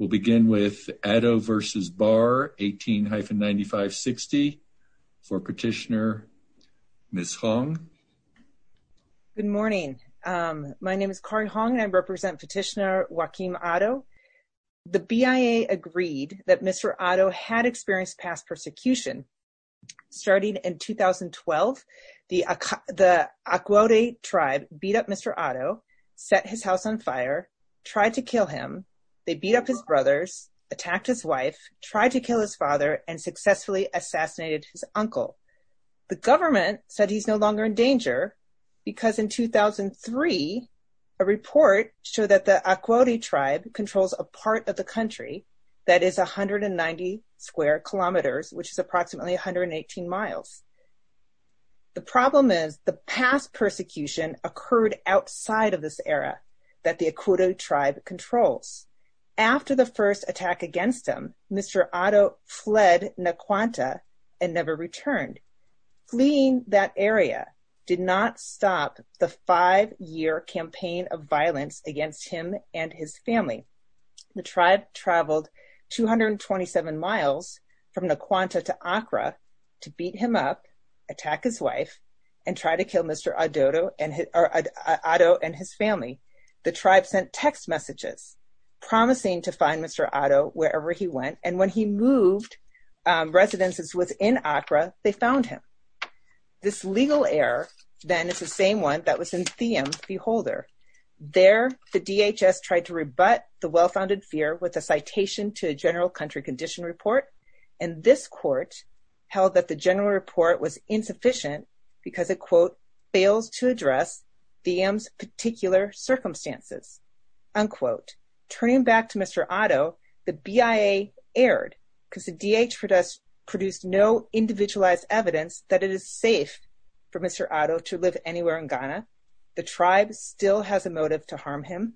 18-9560 for Petitioner Ms. Hong. Good morning. My name is Kari Hong and I represent Petitioner Joaquim Addo. The BIA agreed that Mr. Addo had experienced past persecution. Starting in 2012, the Akwaude tribe beat up Mr. Addo, set his house on fire, tried to kill him, they beat up his brothers, attacked his wife, tried to kill his father, and successfully assassinated his uncle. The government said he's no longer in danger because in 2003, a report showed that the Akwaude tribe controls a part of the country that is 190 square kilometers, which is approximately 118 miles. The problem is the past persecution occurred outside of this area that the Akwaude tribe controls. After the first attack against him, Mr. Addo fled Nkwanta and never returned. Fleeing that area did not stop the five-year campaign of violence against him and his family. The tribe traveled 227 miles from Nkwanta to Accra to beat him up, attack his wife, and try to kill Mr. Addo and his family. The tribe sent text messages promising to find Mr. Addo wherever he went, and when he moved residences within Accra, they found him. This legal error then is the same one that was in Thiem's Beholder. There, the DHS tried to rebut the well-founded fear with a citation to a general country condition report, and this court held that the general report was insufficient because it, quote, fails to address Thiem's particular circumstances, unquote. Turning back to Mr. Addo, the BIA erred because the DHS produced no individualized evidence that it is safe for Mr. Addo to live anywhere in Ghana. The tribe still has a motive to harm him.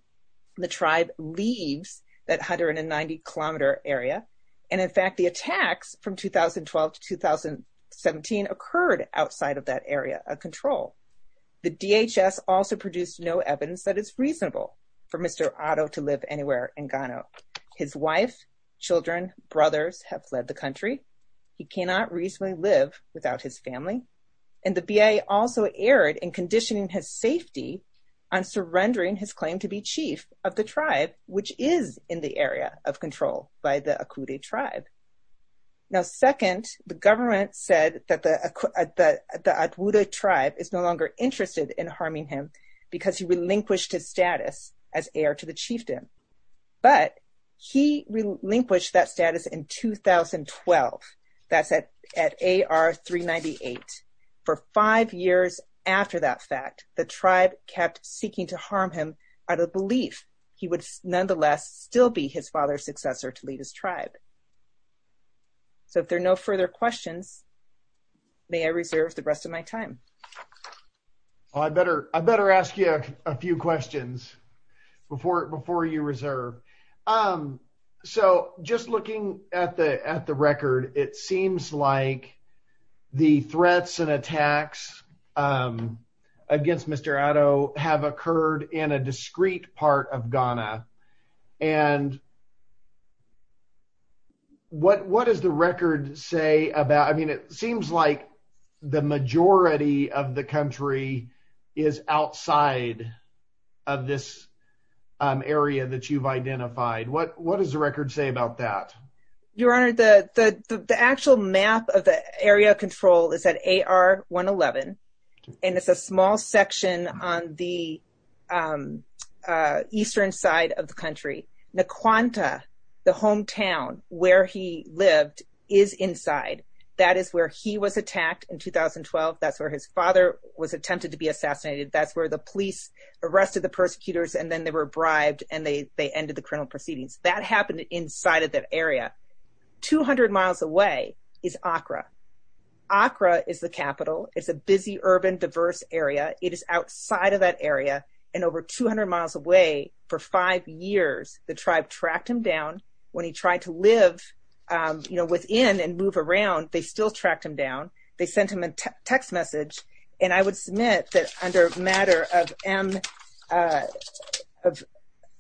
The tribe leaves that 190-kilometer area, and in fact, the attacks from 2012 to 2017 occurred outside of that area of control. The DHS also produced no evidence that it's reasonable for Mr. Addo to live anywhere in Ghana. His wife, children, brothers have fled the country. He cannot reasonably live without his family, and the BIA also erred in conditioning his safety on surrendering his claim to be chief of the tribe, which is in the area of control by the Akude tribe. Now, second, the government said that the Akude tribe is no longer interested in harming him because he relinquished his status as heir to the chieftain. But he relinquished that status in 2012. That's at AR 398. For five years after that fact, the tribe kept seeking to harm him out of belief he would nonetheless still be his father's successor to lead his tribe. So if there are no further questions, may I reserve the rest of my time? I better ask you a few questions before you reserve. So just looking at the record, it seems like the threats and attacks against Mr. Addo have occurred in a discrete part of Ghana. And what does the record say about... I mean, it seems like the majority of the country is outside of this area that you've identified. What does the record say about that? Your Honor, the actual map of the area of control is at AR 111. And it's a small section on the eastern side of the country. Nkwanta, the hometown where he lived, is inside. That is where he was attacked in 2012. That's where his father was attempted to be assassinated. That's where the police arrested the persecutors, and then they were bribed, and they ended the criminal proceedings. That happened inside of that area. 200 miles away is Accra. Accra is the capital. It's a busy, urban, diverse area. It is outside of that area. And over 200 miles away, for five years, the tribe tracked him down. When he tried to live within and move around, they still tracked him down. They sent him a text message. And I would submit that under matter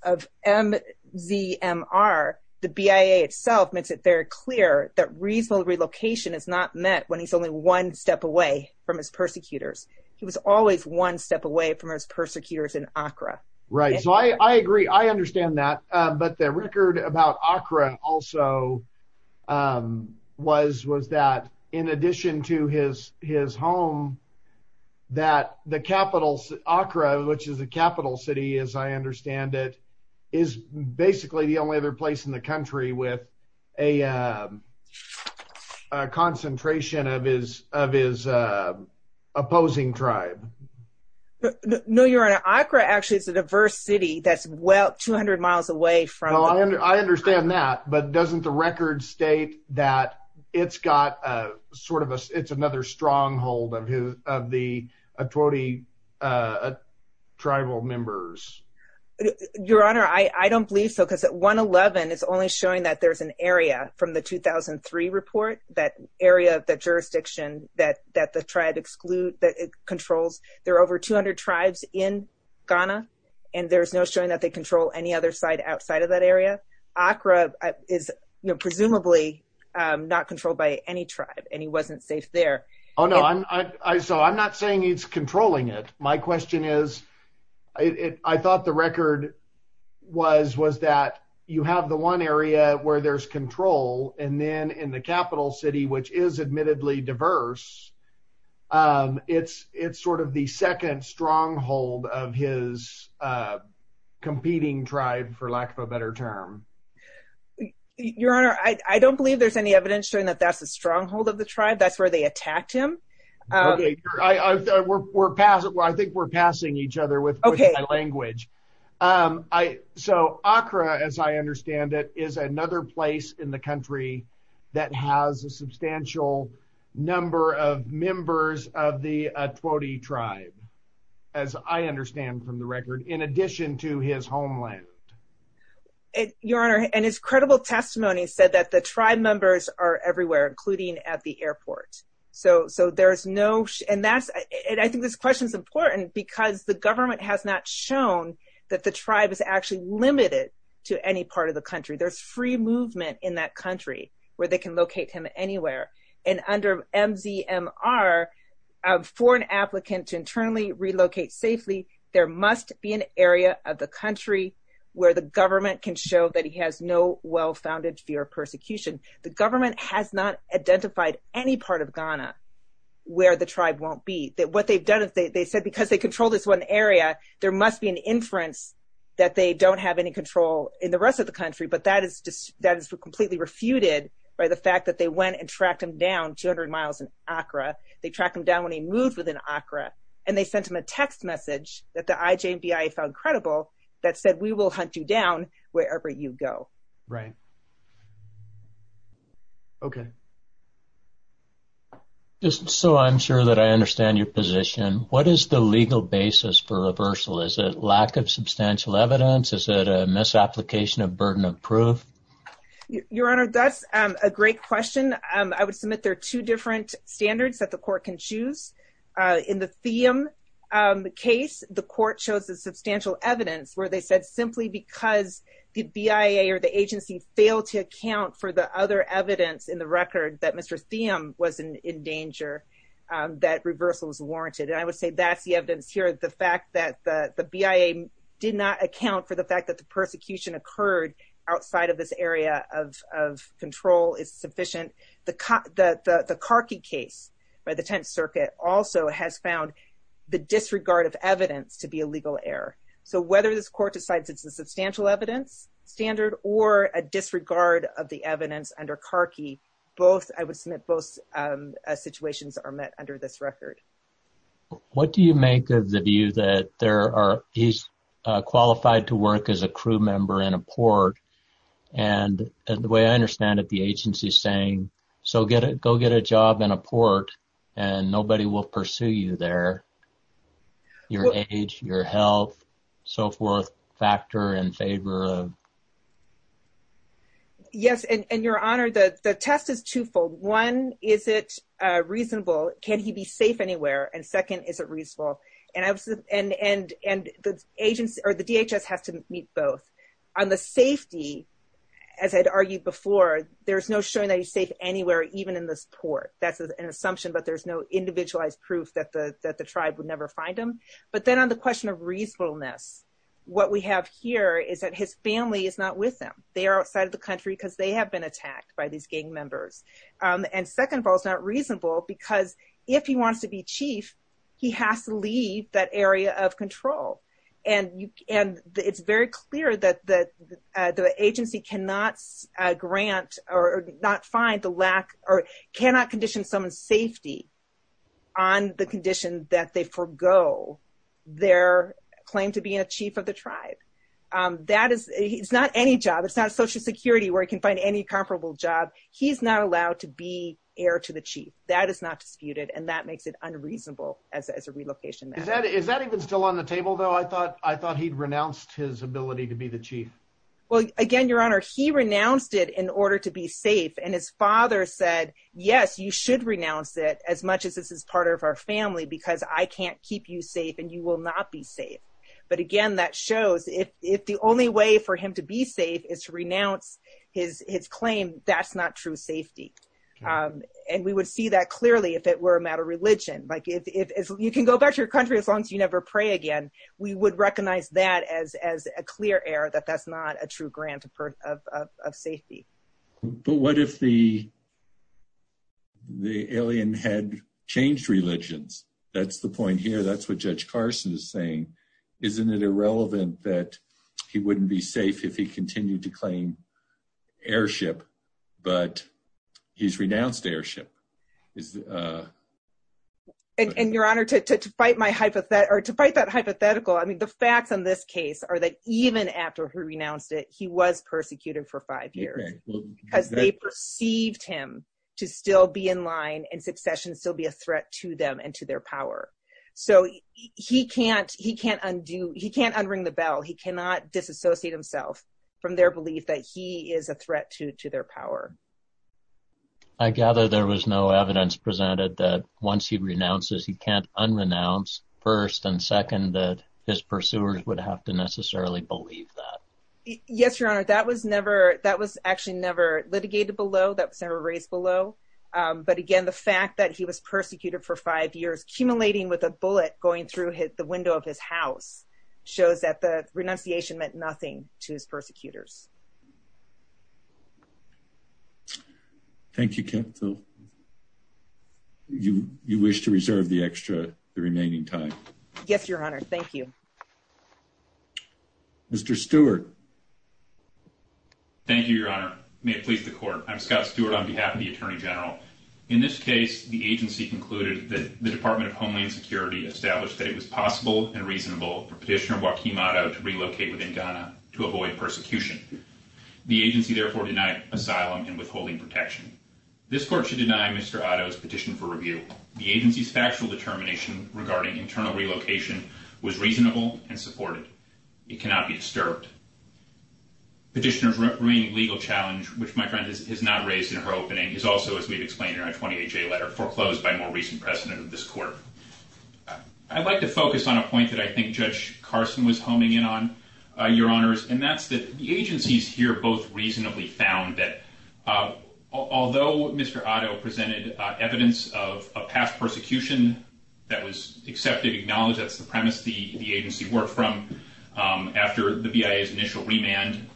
of MZMR, the BIA itself makes it very clear that reasonable relocation is not met when he's only one step away from his persecutors. He was always one step away from his persecutors in Accra. Right. So I agree. I understand that. But the record about Accra also was that in addition to his home, that the capital, Accra, which is the capital city as I understand it, is basically the only other place in the country with a concentration of his opposing tribe. No, Your Honor. Accra actually is a diverse city that's well, 200 miles away from. I understand that. But doesn't the record state that it's got sort of a, it's another stronghold of his, of the Atwodi tribal members? Your Honor, I don't believe so, because at 111, it's only showing that there's an area from the 2003 report, that area of the jurisdiction that the tribe excludes, that it controls. There are over 200 tribes in Ghana, and there's no showing that they control any other side outside of that area. Accra is presumably not controlled by any tribe, and he wasn't safe there. Oh, no. So I'm not saying he's controlling it. My question is, I thought the record was that you have the one area where there's control, and then in the capital city, which is admittedly diverse, it's sort of the second stronghold of his competing tribe, for lack of a better term. Your Honor, I don't believe there's any evidence showing that that's the stronghold of the tribe. That's where they attacked him. I think we're passing each other with my language. So Accra, as I understand it, is another place in the country that has a substantial number of members of the Atwodi tribe, as I understand from the record, in addition to his homeland. Your Honor, and his credible testimony said that the tribe members are everywhere, including at the airport. And I think this question is important because the government has not shown that the tribe is actually limited to any part of the country. There's free movement in that country where they can locate him anywhere. And under MZMR, for an applicant to internally relocate safely, there must be an area of the country where the government can show that he has no well-founded fear of persecution. The government has not identified any part of Ghana where the tribe won't be. They said because they control this one area, there must be an inference that they don't have any control in the rest of the country. But that is completely refuted by the fact that they went and tracked him down 200 miles in Accra. They tracked him down when he moved within Accra. And they sent him a text message that the IJNBI found credible that said, we will hunt you down wherever you go. Right. Okay. So I'm sure that I understand your position. What is the legal basis for reversal? Is it lack of substantial evidence? Is it a misapplication of burden of proof? Your Honor, that's a great question. I would submit there are two different standards that the court can choose. In the Thiem case, the court chose the substantial evidence where they said simply because the BIA or the agency failed to account for the other evidence in the record that Mr. Thiem was in danger, that reversal was warranted. And I would say that's the evidence here. The fact that the BIA did not account for the fact that the persecution occurred outside of this area of control is sufficient. The Karki case by the Tenth Circuit also has found the disregard of evidence to be a legal error. So whether this court decides it's a substantial evidence standard or a disregard of the evidence under Karki, I would submit both situations are met under this record. What do you make of the view that he's qualified to work as a crew member in a port? And the way I understand it, the agency is saying, so go get a job in a port and nobody will pursue you there. Your age, your health, so forth, factor in favor of. Yes, and Your Honor, the test is twofold. One, is it reasonable? Can he be safe anywhere? And second, is it reasonable? And the agency or the DHS has to meet both. On the safety, as I'd argued before, there's no showing that he's safe anywhere, even in this port. That's an assumption, but there's no individualized proof that the tribe would never find him. But then on the question of reasonableness, what we have here is that his family is not with him. They are outside of the country because they have been attacked by these gang members. And second of all, it's not reasonable because if he wants to be chief, he has to leave that area of control. And it's very clear that the agency cannot grant or not find the lack or cannot condition someone's safety on the condition that they forego their claim to be a chief of the tribe. It's not any job. It's not Social Security where he can find any comparable job. He's not allowed to be heir to the chief. That is not disputed, and that makes it unreasonable as a relocation matter. Is that even still on the table, though? I thought he'd renounced his ability to be the chief. Well, again, Your Honor, he renounced it in order to be safe, and his father said, yes, you should renounce it as much as this is part of our family because I can't keep you safe, and you will not be safe. But again, that shows if the only way for him to be safe is to renounce his claim, that's not true safety. You can go back to your country as long as you never pray again. We would recognize that as a clear error, that that's not a true grant of safety. But what if the alien had changed religions? That's the point here. That's what Judge Carson is saying. Isn't it irrelevant that he wouldn't be safe if he continued to claim heirship, but he's renounced heirship? And, Your Honor, to fight that hypothetical, the facts on this case are that even after he renounced it, he was persecuted for five years because they perceived him to still be in line and succession still be a threat to them and to their power. So he can't unring the bell. He cannot disassociate himself from their belief that he is a threat to their power. I gather there was no evidence presented that once he renounces, he can't unrenounce first and second, that his pursuers would have to necessarily believe that. Yes, Your Honor, that was actually never litigated below. That was never raised below. But again, the fact that he was persecuted for five years, accumulating with a bullet going through the window of his house, shows that the renunciation meant nothing to his persecutors. Thank you, Ken. You wish to reserve the extra, the remaining time? Yes, Your Honor. Thank you. Mr. Stewart. Thank you, Your Honor. May it please the Court. I'm Scott Stewart on behalf of the Attorney General. In this case, the agency concluded that the Department of Homeland Security established that it was possible and reasonable for Petitioner Joaquim Otto to relocate within Ghana to avoid persecution. The agency therefore denied asylum and withholding protection. This Court should deny Mr. Otto's petition for review. The agency's factual determination regarding internal relocation was reasonable and supported. It cannot be disturbed. Petitioner's remaining legal challenge, which my friend has not raised in her opening, is also, as we've explained in our 20HA letter, foreclosed by more recent precedent of this Court. I'd like to focus on a point that I think Judge Carson was homing in on, Your Honors, and that's that the agencies here both reasonably found that although Mr. Otto presented evidence of past persecution that was accepted, acknowledged, that's the premise the agency worked from after the BIA's initial remand,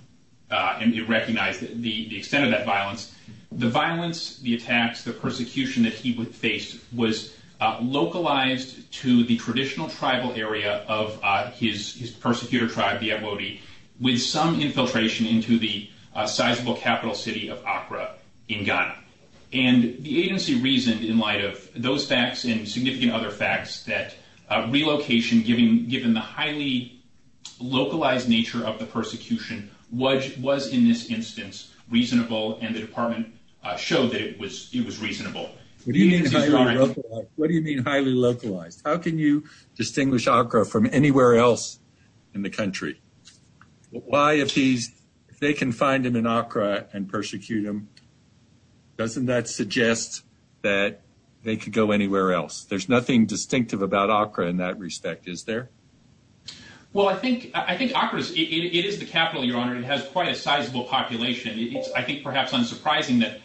and it recognized the extent of that violence, the violence, the attacks, the persecution that he faced was localized to the traditional tribal area of his persecutor tribe, the Ebodi, with some infiltration into the sizable capital city of Accra in Ghana. And the agency reasoned in light of those facts and significant other facts that relocation, given the highly localized nature of the persecution, was in this instance reasonable, and the Department showed that it was reasonable. What do you mean highly localized? How can you distinguish Accra from anywhere else in the country? Why, if they can find him in Accra and persecute him, doesn't that suggest that they could go anywhere else? There's nothing distinctive about Accra in that respect, is there? Well, I think Accra, it is the capital, Your Honor, and it has quite a sizable population. I think perhaps unsurprising that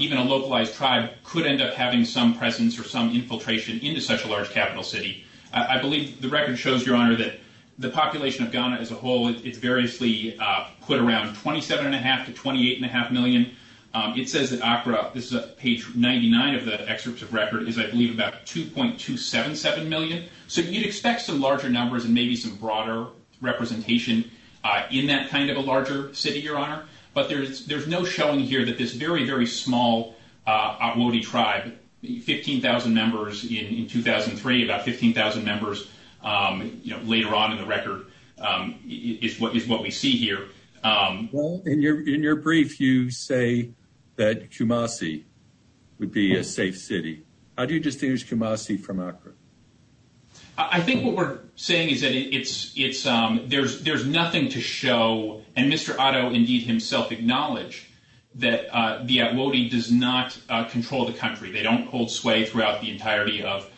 even a localized tribe could end up having some presence or some infiltration into such a large capital city. I believe the record shows, Your Honor, that the population of Ghana as a whole, it's variously put around 27.5 to 28.5 million. It says that Accra, this is page 99 of the excerpt of record, is, I believe, about 2.277 million. So you'd expect some larger numbers and maybe some broader representation in that kind of a larger city, Your Honor. But there's no showing here that this very, very small Otwode tribe, 15,000 members in 2003, about 15,000 members later on in the record, is what we see here. Well, in your brief, you say that Kumasi would be a safe city. How do you distinguish Kumasi from Accra? I think what we're saying is that there's nothing to show, and Mr. Otto indeed himself acknowledged that the Otwode does not control the country. They don't hold sway throughout the entirety of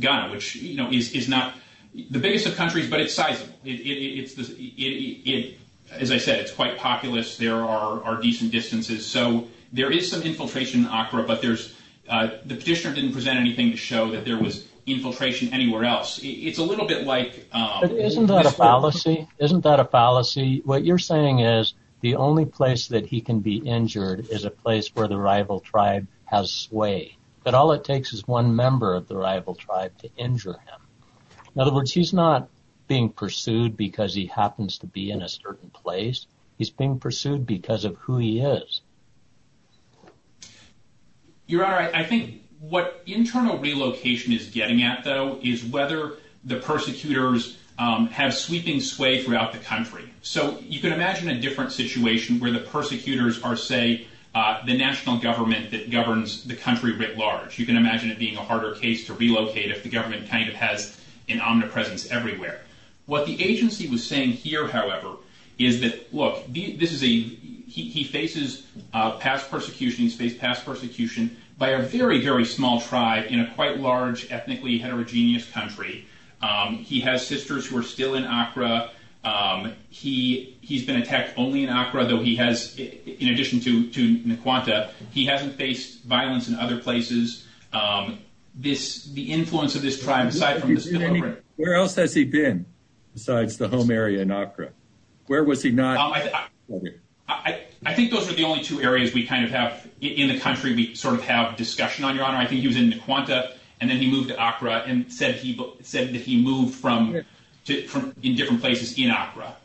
Ghana, which is not the biggest of countries, but it's sizable. As I said, it's quite populous. There are decent distances. So there is some infiltration in Accra, but the petitioner didn't present anything to show that there was infiltration anywhere else. It's a little bit like— Isn't that a fallacy? Isn't that a fallacy? What you're saying is the only place that he can be injured is a place where the rival tribe has sway, that all it takes is one member of the rival tribe to injure him. In other words, he's not being pursued because he happens to be in a certain place. He's being pursued because of who he is. Your Honor, I think what internal relocation is getting at, though, is whether the persecutors have sweeping sway throughout the country. So you can imagine a different situation where the persecutors are, say, the national government that governs the country writ large. You can imagine it being a harder case to relocate if the government kind of has an omnipresence everywhere. What the agency was saying here, however, is that, look, this is a—he faces past persecution. He's faced past persecution by a very, very small tribe in a quite large ethnically heterogeneous country. He has sisters who are still in Accra. He's been attacked only in Accra, though he has, in addition to Nkwanta, he hasn't faced violence in other places. The influence of this tribe— Where else has he been besides the home area in Accra? Where was he not? I think those are the only two areas we kind of have in the country we sort of have discussion on, Your Honor. I think he was in Nkwanta, and then he moved to Accra and said that he moved in different places in Accra.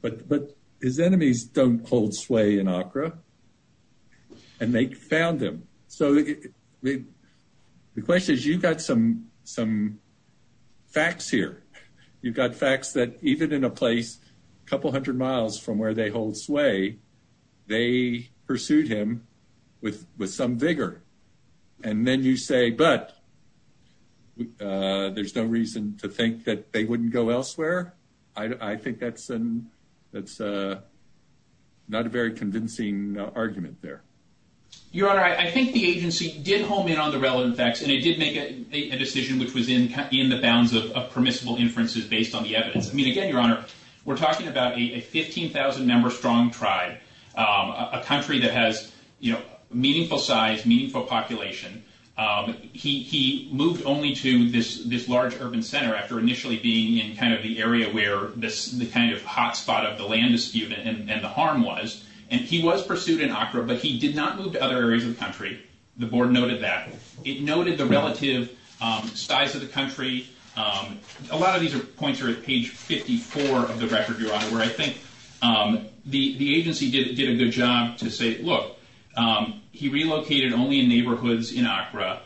But his enemies don't hold sway in Accra, and they found him. So the question is, you've got some facts here. You've got facts that even in a place a couple hundred miles from where they hold sway, they pursued him with some vigor. And then you say, but there's no reason to think that they wouldn't go elsewhere. I think that's not a very convincing argument there. Your Honor, I think the agency did home in on the relevant facts, and it did make a decision which was in the bounds of permissible inferences based on the evidence. I mean, again, Your Honor, we're talking about a 15,000-member strong tribe, a country that has meaningful size, meaningful population. He moved only to this large urban center after initially being in kind of the area where the kind of hot spot of the land is skewed and the harm was. And he was pursued in Accra, but he did not move to other areas of the country. The board noted that. It noted the relative size of the country. A lot of these points are at page 54 of the record, Your Honor, where I think the agency did a good job to say, look, he relocated only in neighborhoods in Accra.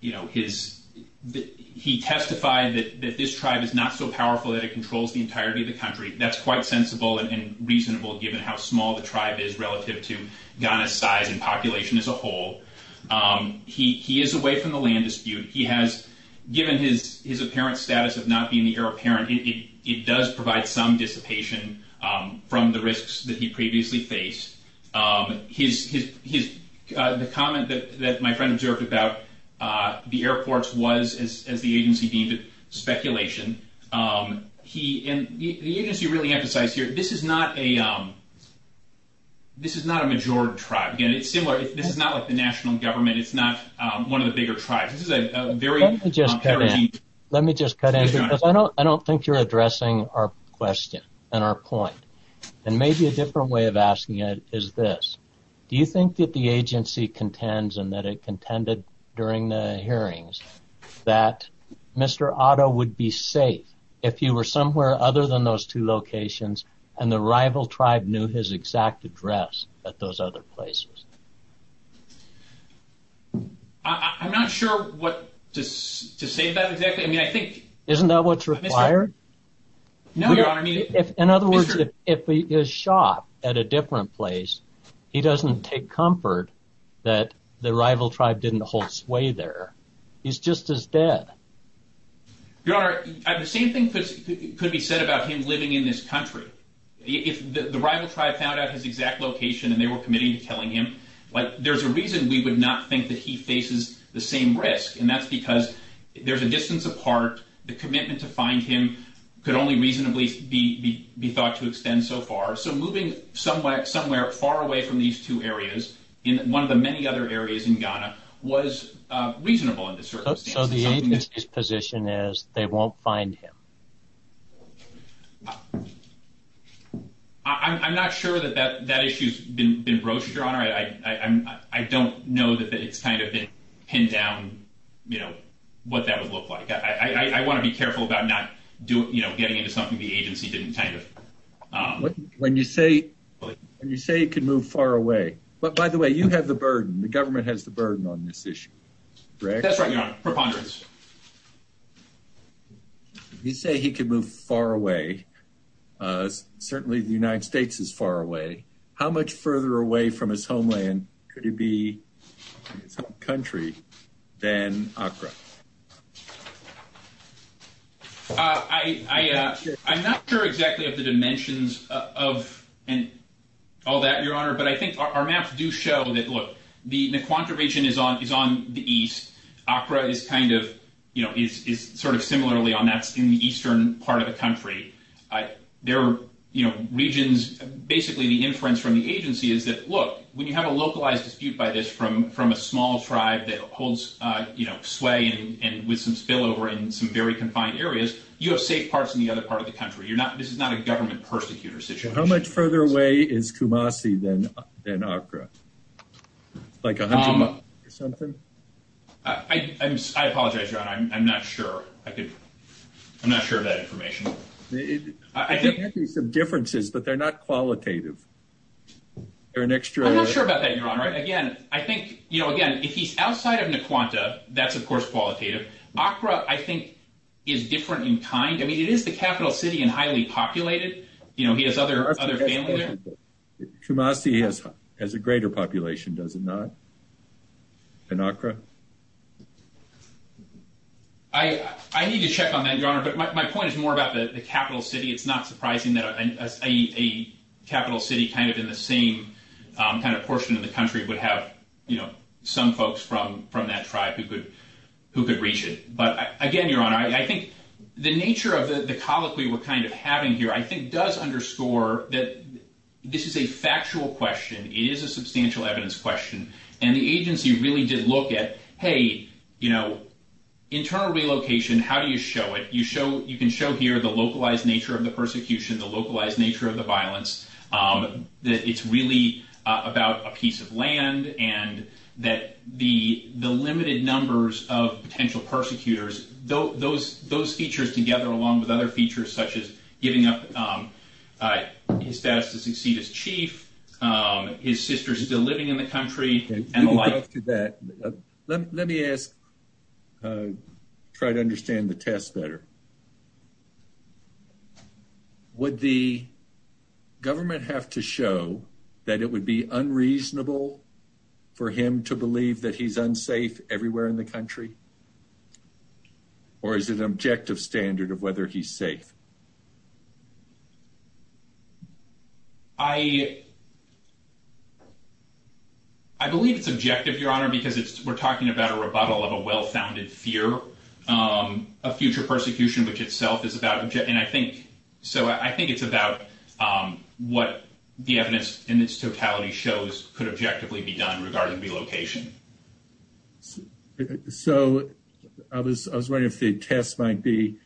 You know, he testified that this tribe is not so powerful that it controls the entirety of the country. That's quite sensible and reasonable given how small the tribe is relative to Ghana's size and population as a whole. He is away from the land dispute. He has given his apparent status of not being the heir apparent. It does provide some dissipation from the risks that he previously faced. The comment that my friend observed about the airports was, as the agency deemed it, speculation. And the agency really emphasized here, this is not a major tribe. Again, it's similar. This is not like the national government. It's not one of the bigger tribes. This is a very. Let me just cut in. Let me just cut in because I don't think you're addressing our question and our point. And maybe a different way of asking it is this. Do you think that the agency contends and that it contended during the hearings that Mr. Otto would be safe if you were somewhere other than those two locations and the rival tribe knew his exact address at those other places? I'm not sure what to say about exactly. I mean, I think. No, Your Honor. In other words, if he is shot at a different place, he doesn't take comfort that the rival tribe didn't hold sway there. He's just as dead. Your Honor, the same thing could be said about him living in this country. If the rival tribe found out his exact location and they were committing to killing him, there's a reason we would not think that he faces the same risk. And that's because there's a distance apart. The commitment to find him could only reasonably be thought to extend so far. So moving somewhere somewhere far away from these two areas in one of the many other areas in Ghana was reasonable in this circumstance. So the agency's position is they won't find him. I'm not sure that that that issue's been broached, Your Honor. I don't know that it's kind of been pinned down, you know, what that would look like. I want to be careful about not doing, you know, getting into something the agency didn't kind of. When you say when you say it could move far away. But by the way, you have the burden. The government has the burden on this issue. That's right, Your Honor. You say he could move far away. Certainly the United States is far away. How much further away from his homeland could he be in some country than Accra? I'm not sure exactly of the dimensions of all that, Your Honor. But I think our maps do show that, look, the Nkwanta region is on the east. Accra is kind of, you know, is sort of similarly on that in the eastern part of the country. Their, you know, regions, basically the inference from the agency is that, look, when you have a localized dispute by this from a small tribe that holds, you know, sway and with some spillover in some very confined areas, you have safe parts in the other part of the country. This is not a government persecutor situation. How much further away is Kumasi than Accra? Like 100 miles or something? I apologize, Your Honor. I'm not sure. I'm not sure of that information. There might be some differences, but they're not qualitative. I'm not sure about that, Your Honor. Again, I think, you know, again, if he's outside of Nkwanta, that's, of course, qualitative. Accra, I think, is different in kind. I mean, it is the capital city and highly populated. You know, he has other families there. Kumasi has a greater population, does it not, than Accra? I need to check on that, Your Honor. But my point is more about the capital city. It's not surprising that a capital city kind of in the same kind of portion of the country would have, you know, some folks from that tribe who could reach it. But again, Your Honor, I think the nature of the colloquy we're kind of having here, I think, does underscore that this is a factual question. It is a substantial evidence question. And the agency really did look at, hey, you know, internal relocation, how do you show it? You can show here the localized nature of the persecution, the localized nature of the violence, that it's really about a piece of land and that the limited numbers of potential persecutors, those features together along with other features such as giving up his status to succeed as chief, his sister still living in the country. Let me ask, try to understand the test better. Would the government have to show that it would be unreasonable for him to believe that he's unsafe everywhere in the country? Or is it an objective standard of whether he's safe? I believe it's objective, Your Honor, because we're talking about a rebuttal of a well-founded fear of future persecution, which itself is about. And I think so. I think it's about what the evidence in its totality shows could objectively be done regarding relocation. So I was wondering if the test might be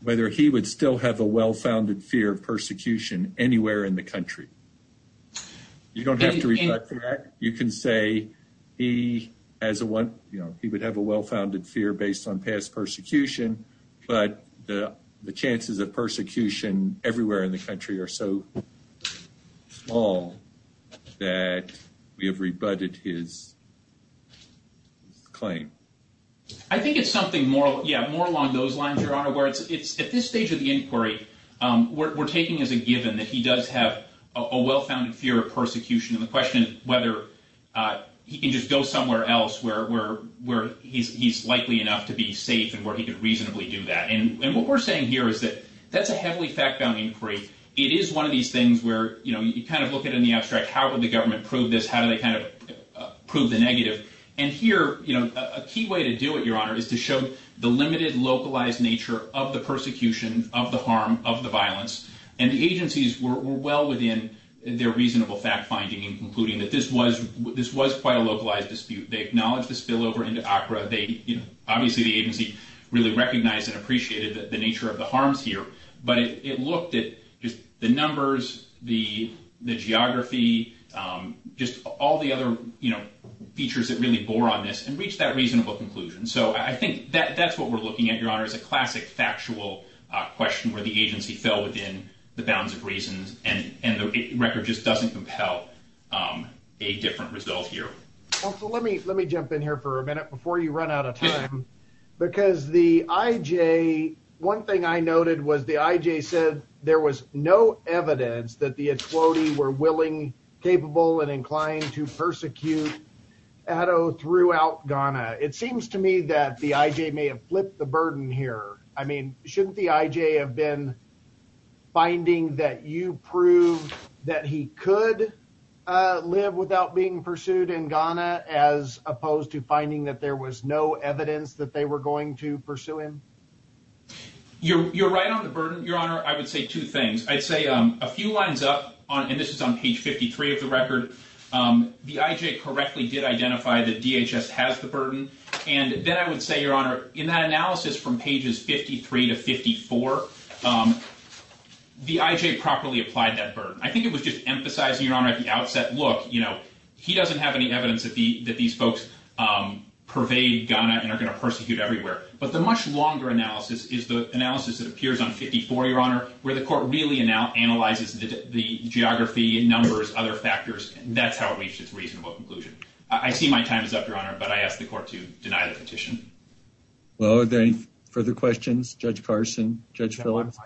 whether he would still have a well-founded fear of persecution anywhere in the country. You don't have to rebut that. You can say he as a one, you know, he would have a well-founded fear based on past persecution. But the chances of persecution everywhere in the country are so small that we have rebutted his claim. I think it's something more along those lines, Your Honor, where it's at this stage of the inquiry, we're taking as a given that he does have a well-founded fear of persecution. And the question is whether he can just go somewhere else where he's likely enough to be safe and where he could reasonably do that. And what we're saying here is that that's a heavily fact-bound inquiry. It is one of these things where, you know, you kind of look at it in the abstract. How would the government prove this? How do they kind of prove the negative? And here, you know, a key way to do it, Your Honor, is to show the limited localized nature of the persecution, of the harm, of the violence. And the agencies were well within their reasonable fact-finding in concluding that this was quite a localized dispute. They acknowledged the spillover into Accra. They, you know, obviously the agency really recognized and appreciated the nature of the harms here. But it looked at just the numbers, the geography, just all the other, you know, features that really bore on this and reached that reasonable conclusion. So I think that's what we're looking at, Your Honor, is a classic factual question where the agency fell within the bounds of reasons. And the record just doesn't compel a different result here. Well, so let me jump in here for a minute before you run out of time. Because the IJ, one thing I noted was the IJ said there was no evidence that the Ethiopians were willing, capable, and inclined to persecute Addo throughout Ghana. It seems to me that the IJ may have flipped the burden here. I mean, shouldn't the IJ have been finding that you prove that he could live without being pursued in Ghana as opposed to finding that there was no evidence that they were going to pursue him? You're right on the burden, Your Honor. I would say two things. I'd say a few lines up, and this is on page 53 of the record, the IJ correctly did identify that DHS has the burden. And then I would say, Your Honor, in that analysis from pages 53 to 54, the IJ properly applied that burden. I think it was just emphasizing, Your Honor, at the outset, look, you know, he doesn't have any evidence that these folks pervade Ghana and are going to persecute everywhere. But the much longer analysis is the analysis that appears on 54, Your Honor, where the court really analyzes the geography, numbers, other factors. That's how it reached its reasonable conclusion. I see my time is up, Your Honor, but I ask the court to deny the petition. Well, are there any further questions? Judge Carson? Judge Phillips?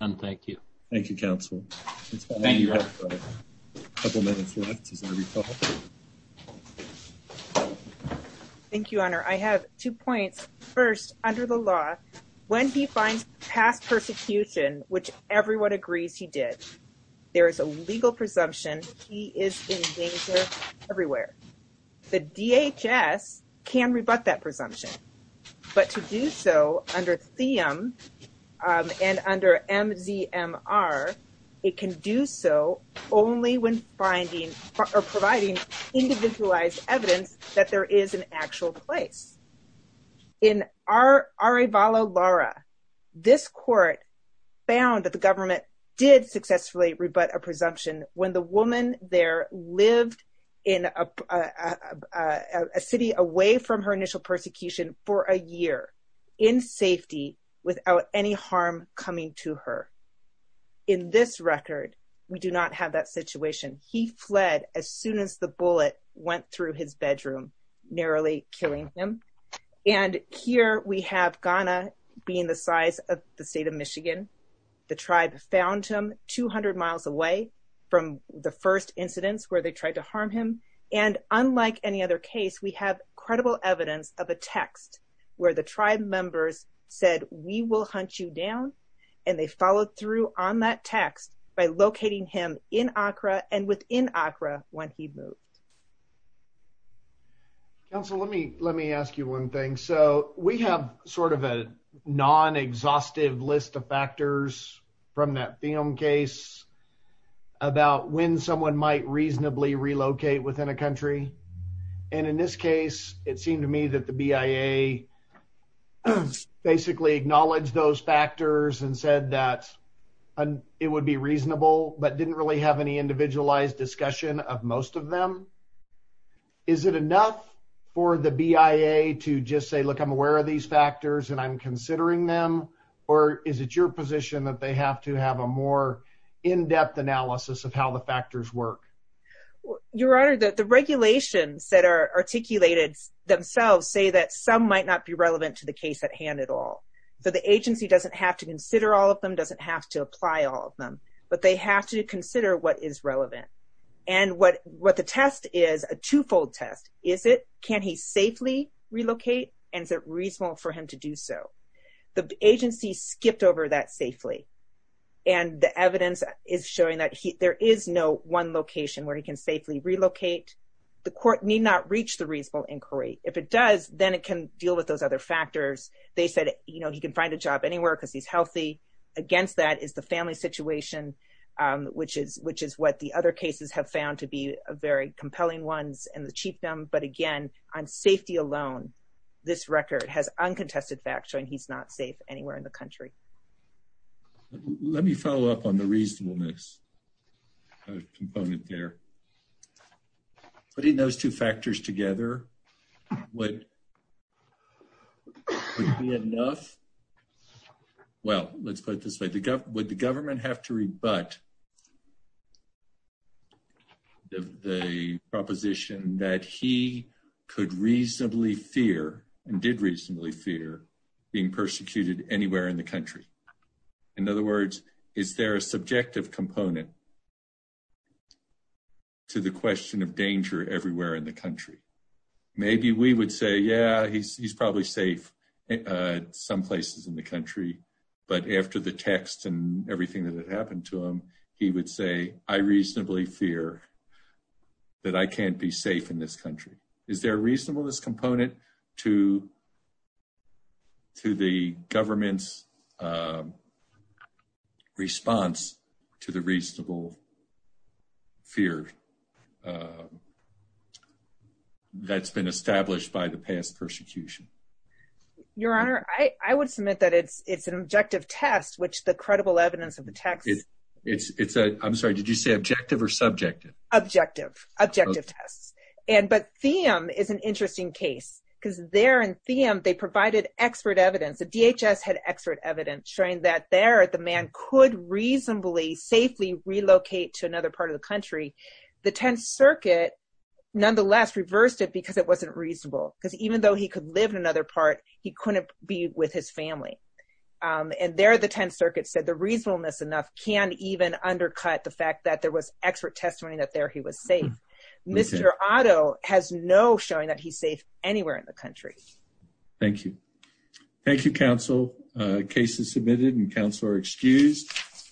None, thank you. Thank you, counsel. Thank you, Your Honor. A couple minutes left, as I recall. Thank you, Your Honor. I have two points. First, under the law, when he finds past persecution, which everyone agrees he did, there is a legal presumption he is in danger everywhere. The DHS can rebut that presumption, but to do so under Theum and under MZMR, it can do so only when providing individualized evidence that there is an actual place. In Arevalo Lara, this court found that the government did successfully rebut a presumption when the woman there lived in a city away from her initial persecution for a year in safety without any harm coming to her. In this record, we do not have that situation. We do have that situation. He fled as soon as the bullet went through his bedroom, narrowly killing him. And here we have Ghana being the size of the state of Michigan. The tribe found him 200 miles away from the first incidents where they tried to harm him. And unlike any other case, we have credible evidence of a text where the tribe members said, we will hunt you down. And they followed through on that text by locating him in Accra and within Accra when he moved. Counsel, let me ask you one thing. So we have sort of a non-exhaustive list of factors from that Theum case about when someone might reasonably relocate within a country. And in this case, it seemed to me that the BIA basically acknowledged those factors and said that it would be reasonable but didn't really have any individualized discussion of most of them. Is it enough for the BIA to just say, look, I'm aware of these factors and I'm considering them? Or is it your position that they have to have a more in-depth analysis of how the factors work? Your Honor, the regulations that are articulated themselves say that some might not be relevant to the case at hand at all. So the agency doesn't have to consider all of them, doesn't have to apply all of them. But they have to consider what is relevant. And what the test is a twofold test. Is it, can he safely relocate and is it reasonable for him to do so? The agency skipped over that safely. And the evidence is showing that there is no one location where he can safely relocate. The court need not reach the reasonable inquiry. If it does, then it can deal with those other factors. They said, you know, he can find a job anywhere because he's healthy. Against that is the family situation, which is what the other cases have found to be very compelling ones and the cheap them. But again, on safety alone, this record has uncontested facts showing he's not safe anywhere in the country. Let me follow up on the reasonableness component there. Putting those two factors together would be enough. Well, let's put it this way. Would the government have to rebut the proposition that he could reasonably fear and did reasonably fear being persecuted anywhere in the country? In other words, is there a subjective component to the question of danger everywhere in the country? Maybe we would say, yeah, he's probably safe some places in the country. But after the text and everything that had happened to him, he would say, I reasonably fear that I can't be safe in this country. Is there a reasonableness component to the government's response to the reasonable fear that's been established by the past persecution? Your Honor, I would submit that it's an objective test, which the credible evidence of the text. I'm sorry, did you say objective or subjective? Objective, objective tests. But Thiem is an interesting case. Because there in Thiem, they provided expert evidence. The DHS had expert evidence showing that there, the man could reasonably safely relocate to another part of the country. The Tenth Circuit nonetheless reversed it because it wasn't reasonable. Because even though he could live in another part, he couldn't be with his family. And there, the Tenth Circuit said the reasonableness enough can even undercut the fact that there was expert testimony that there he was safe. Mr. Otto has no showing that he's safe anywhere in the country. Thank you. Thank you, counsel. Case is submitted and counsel are excused.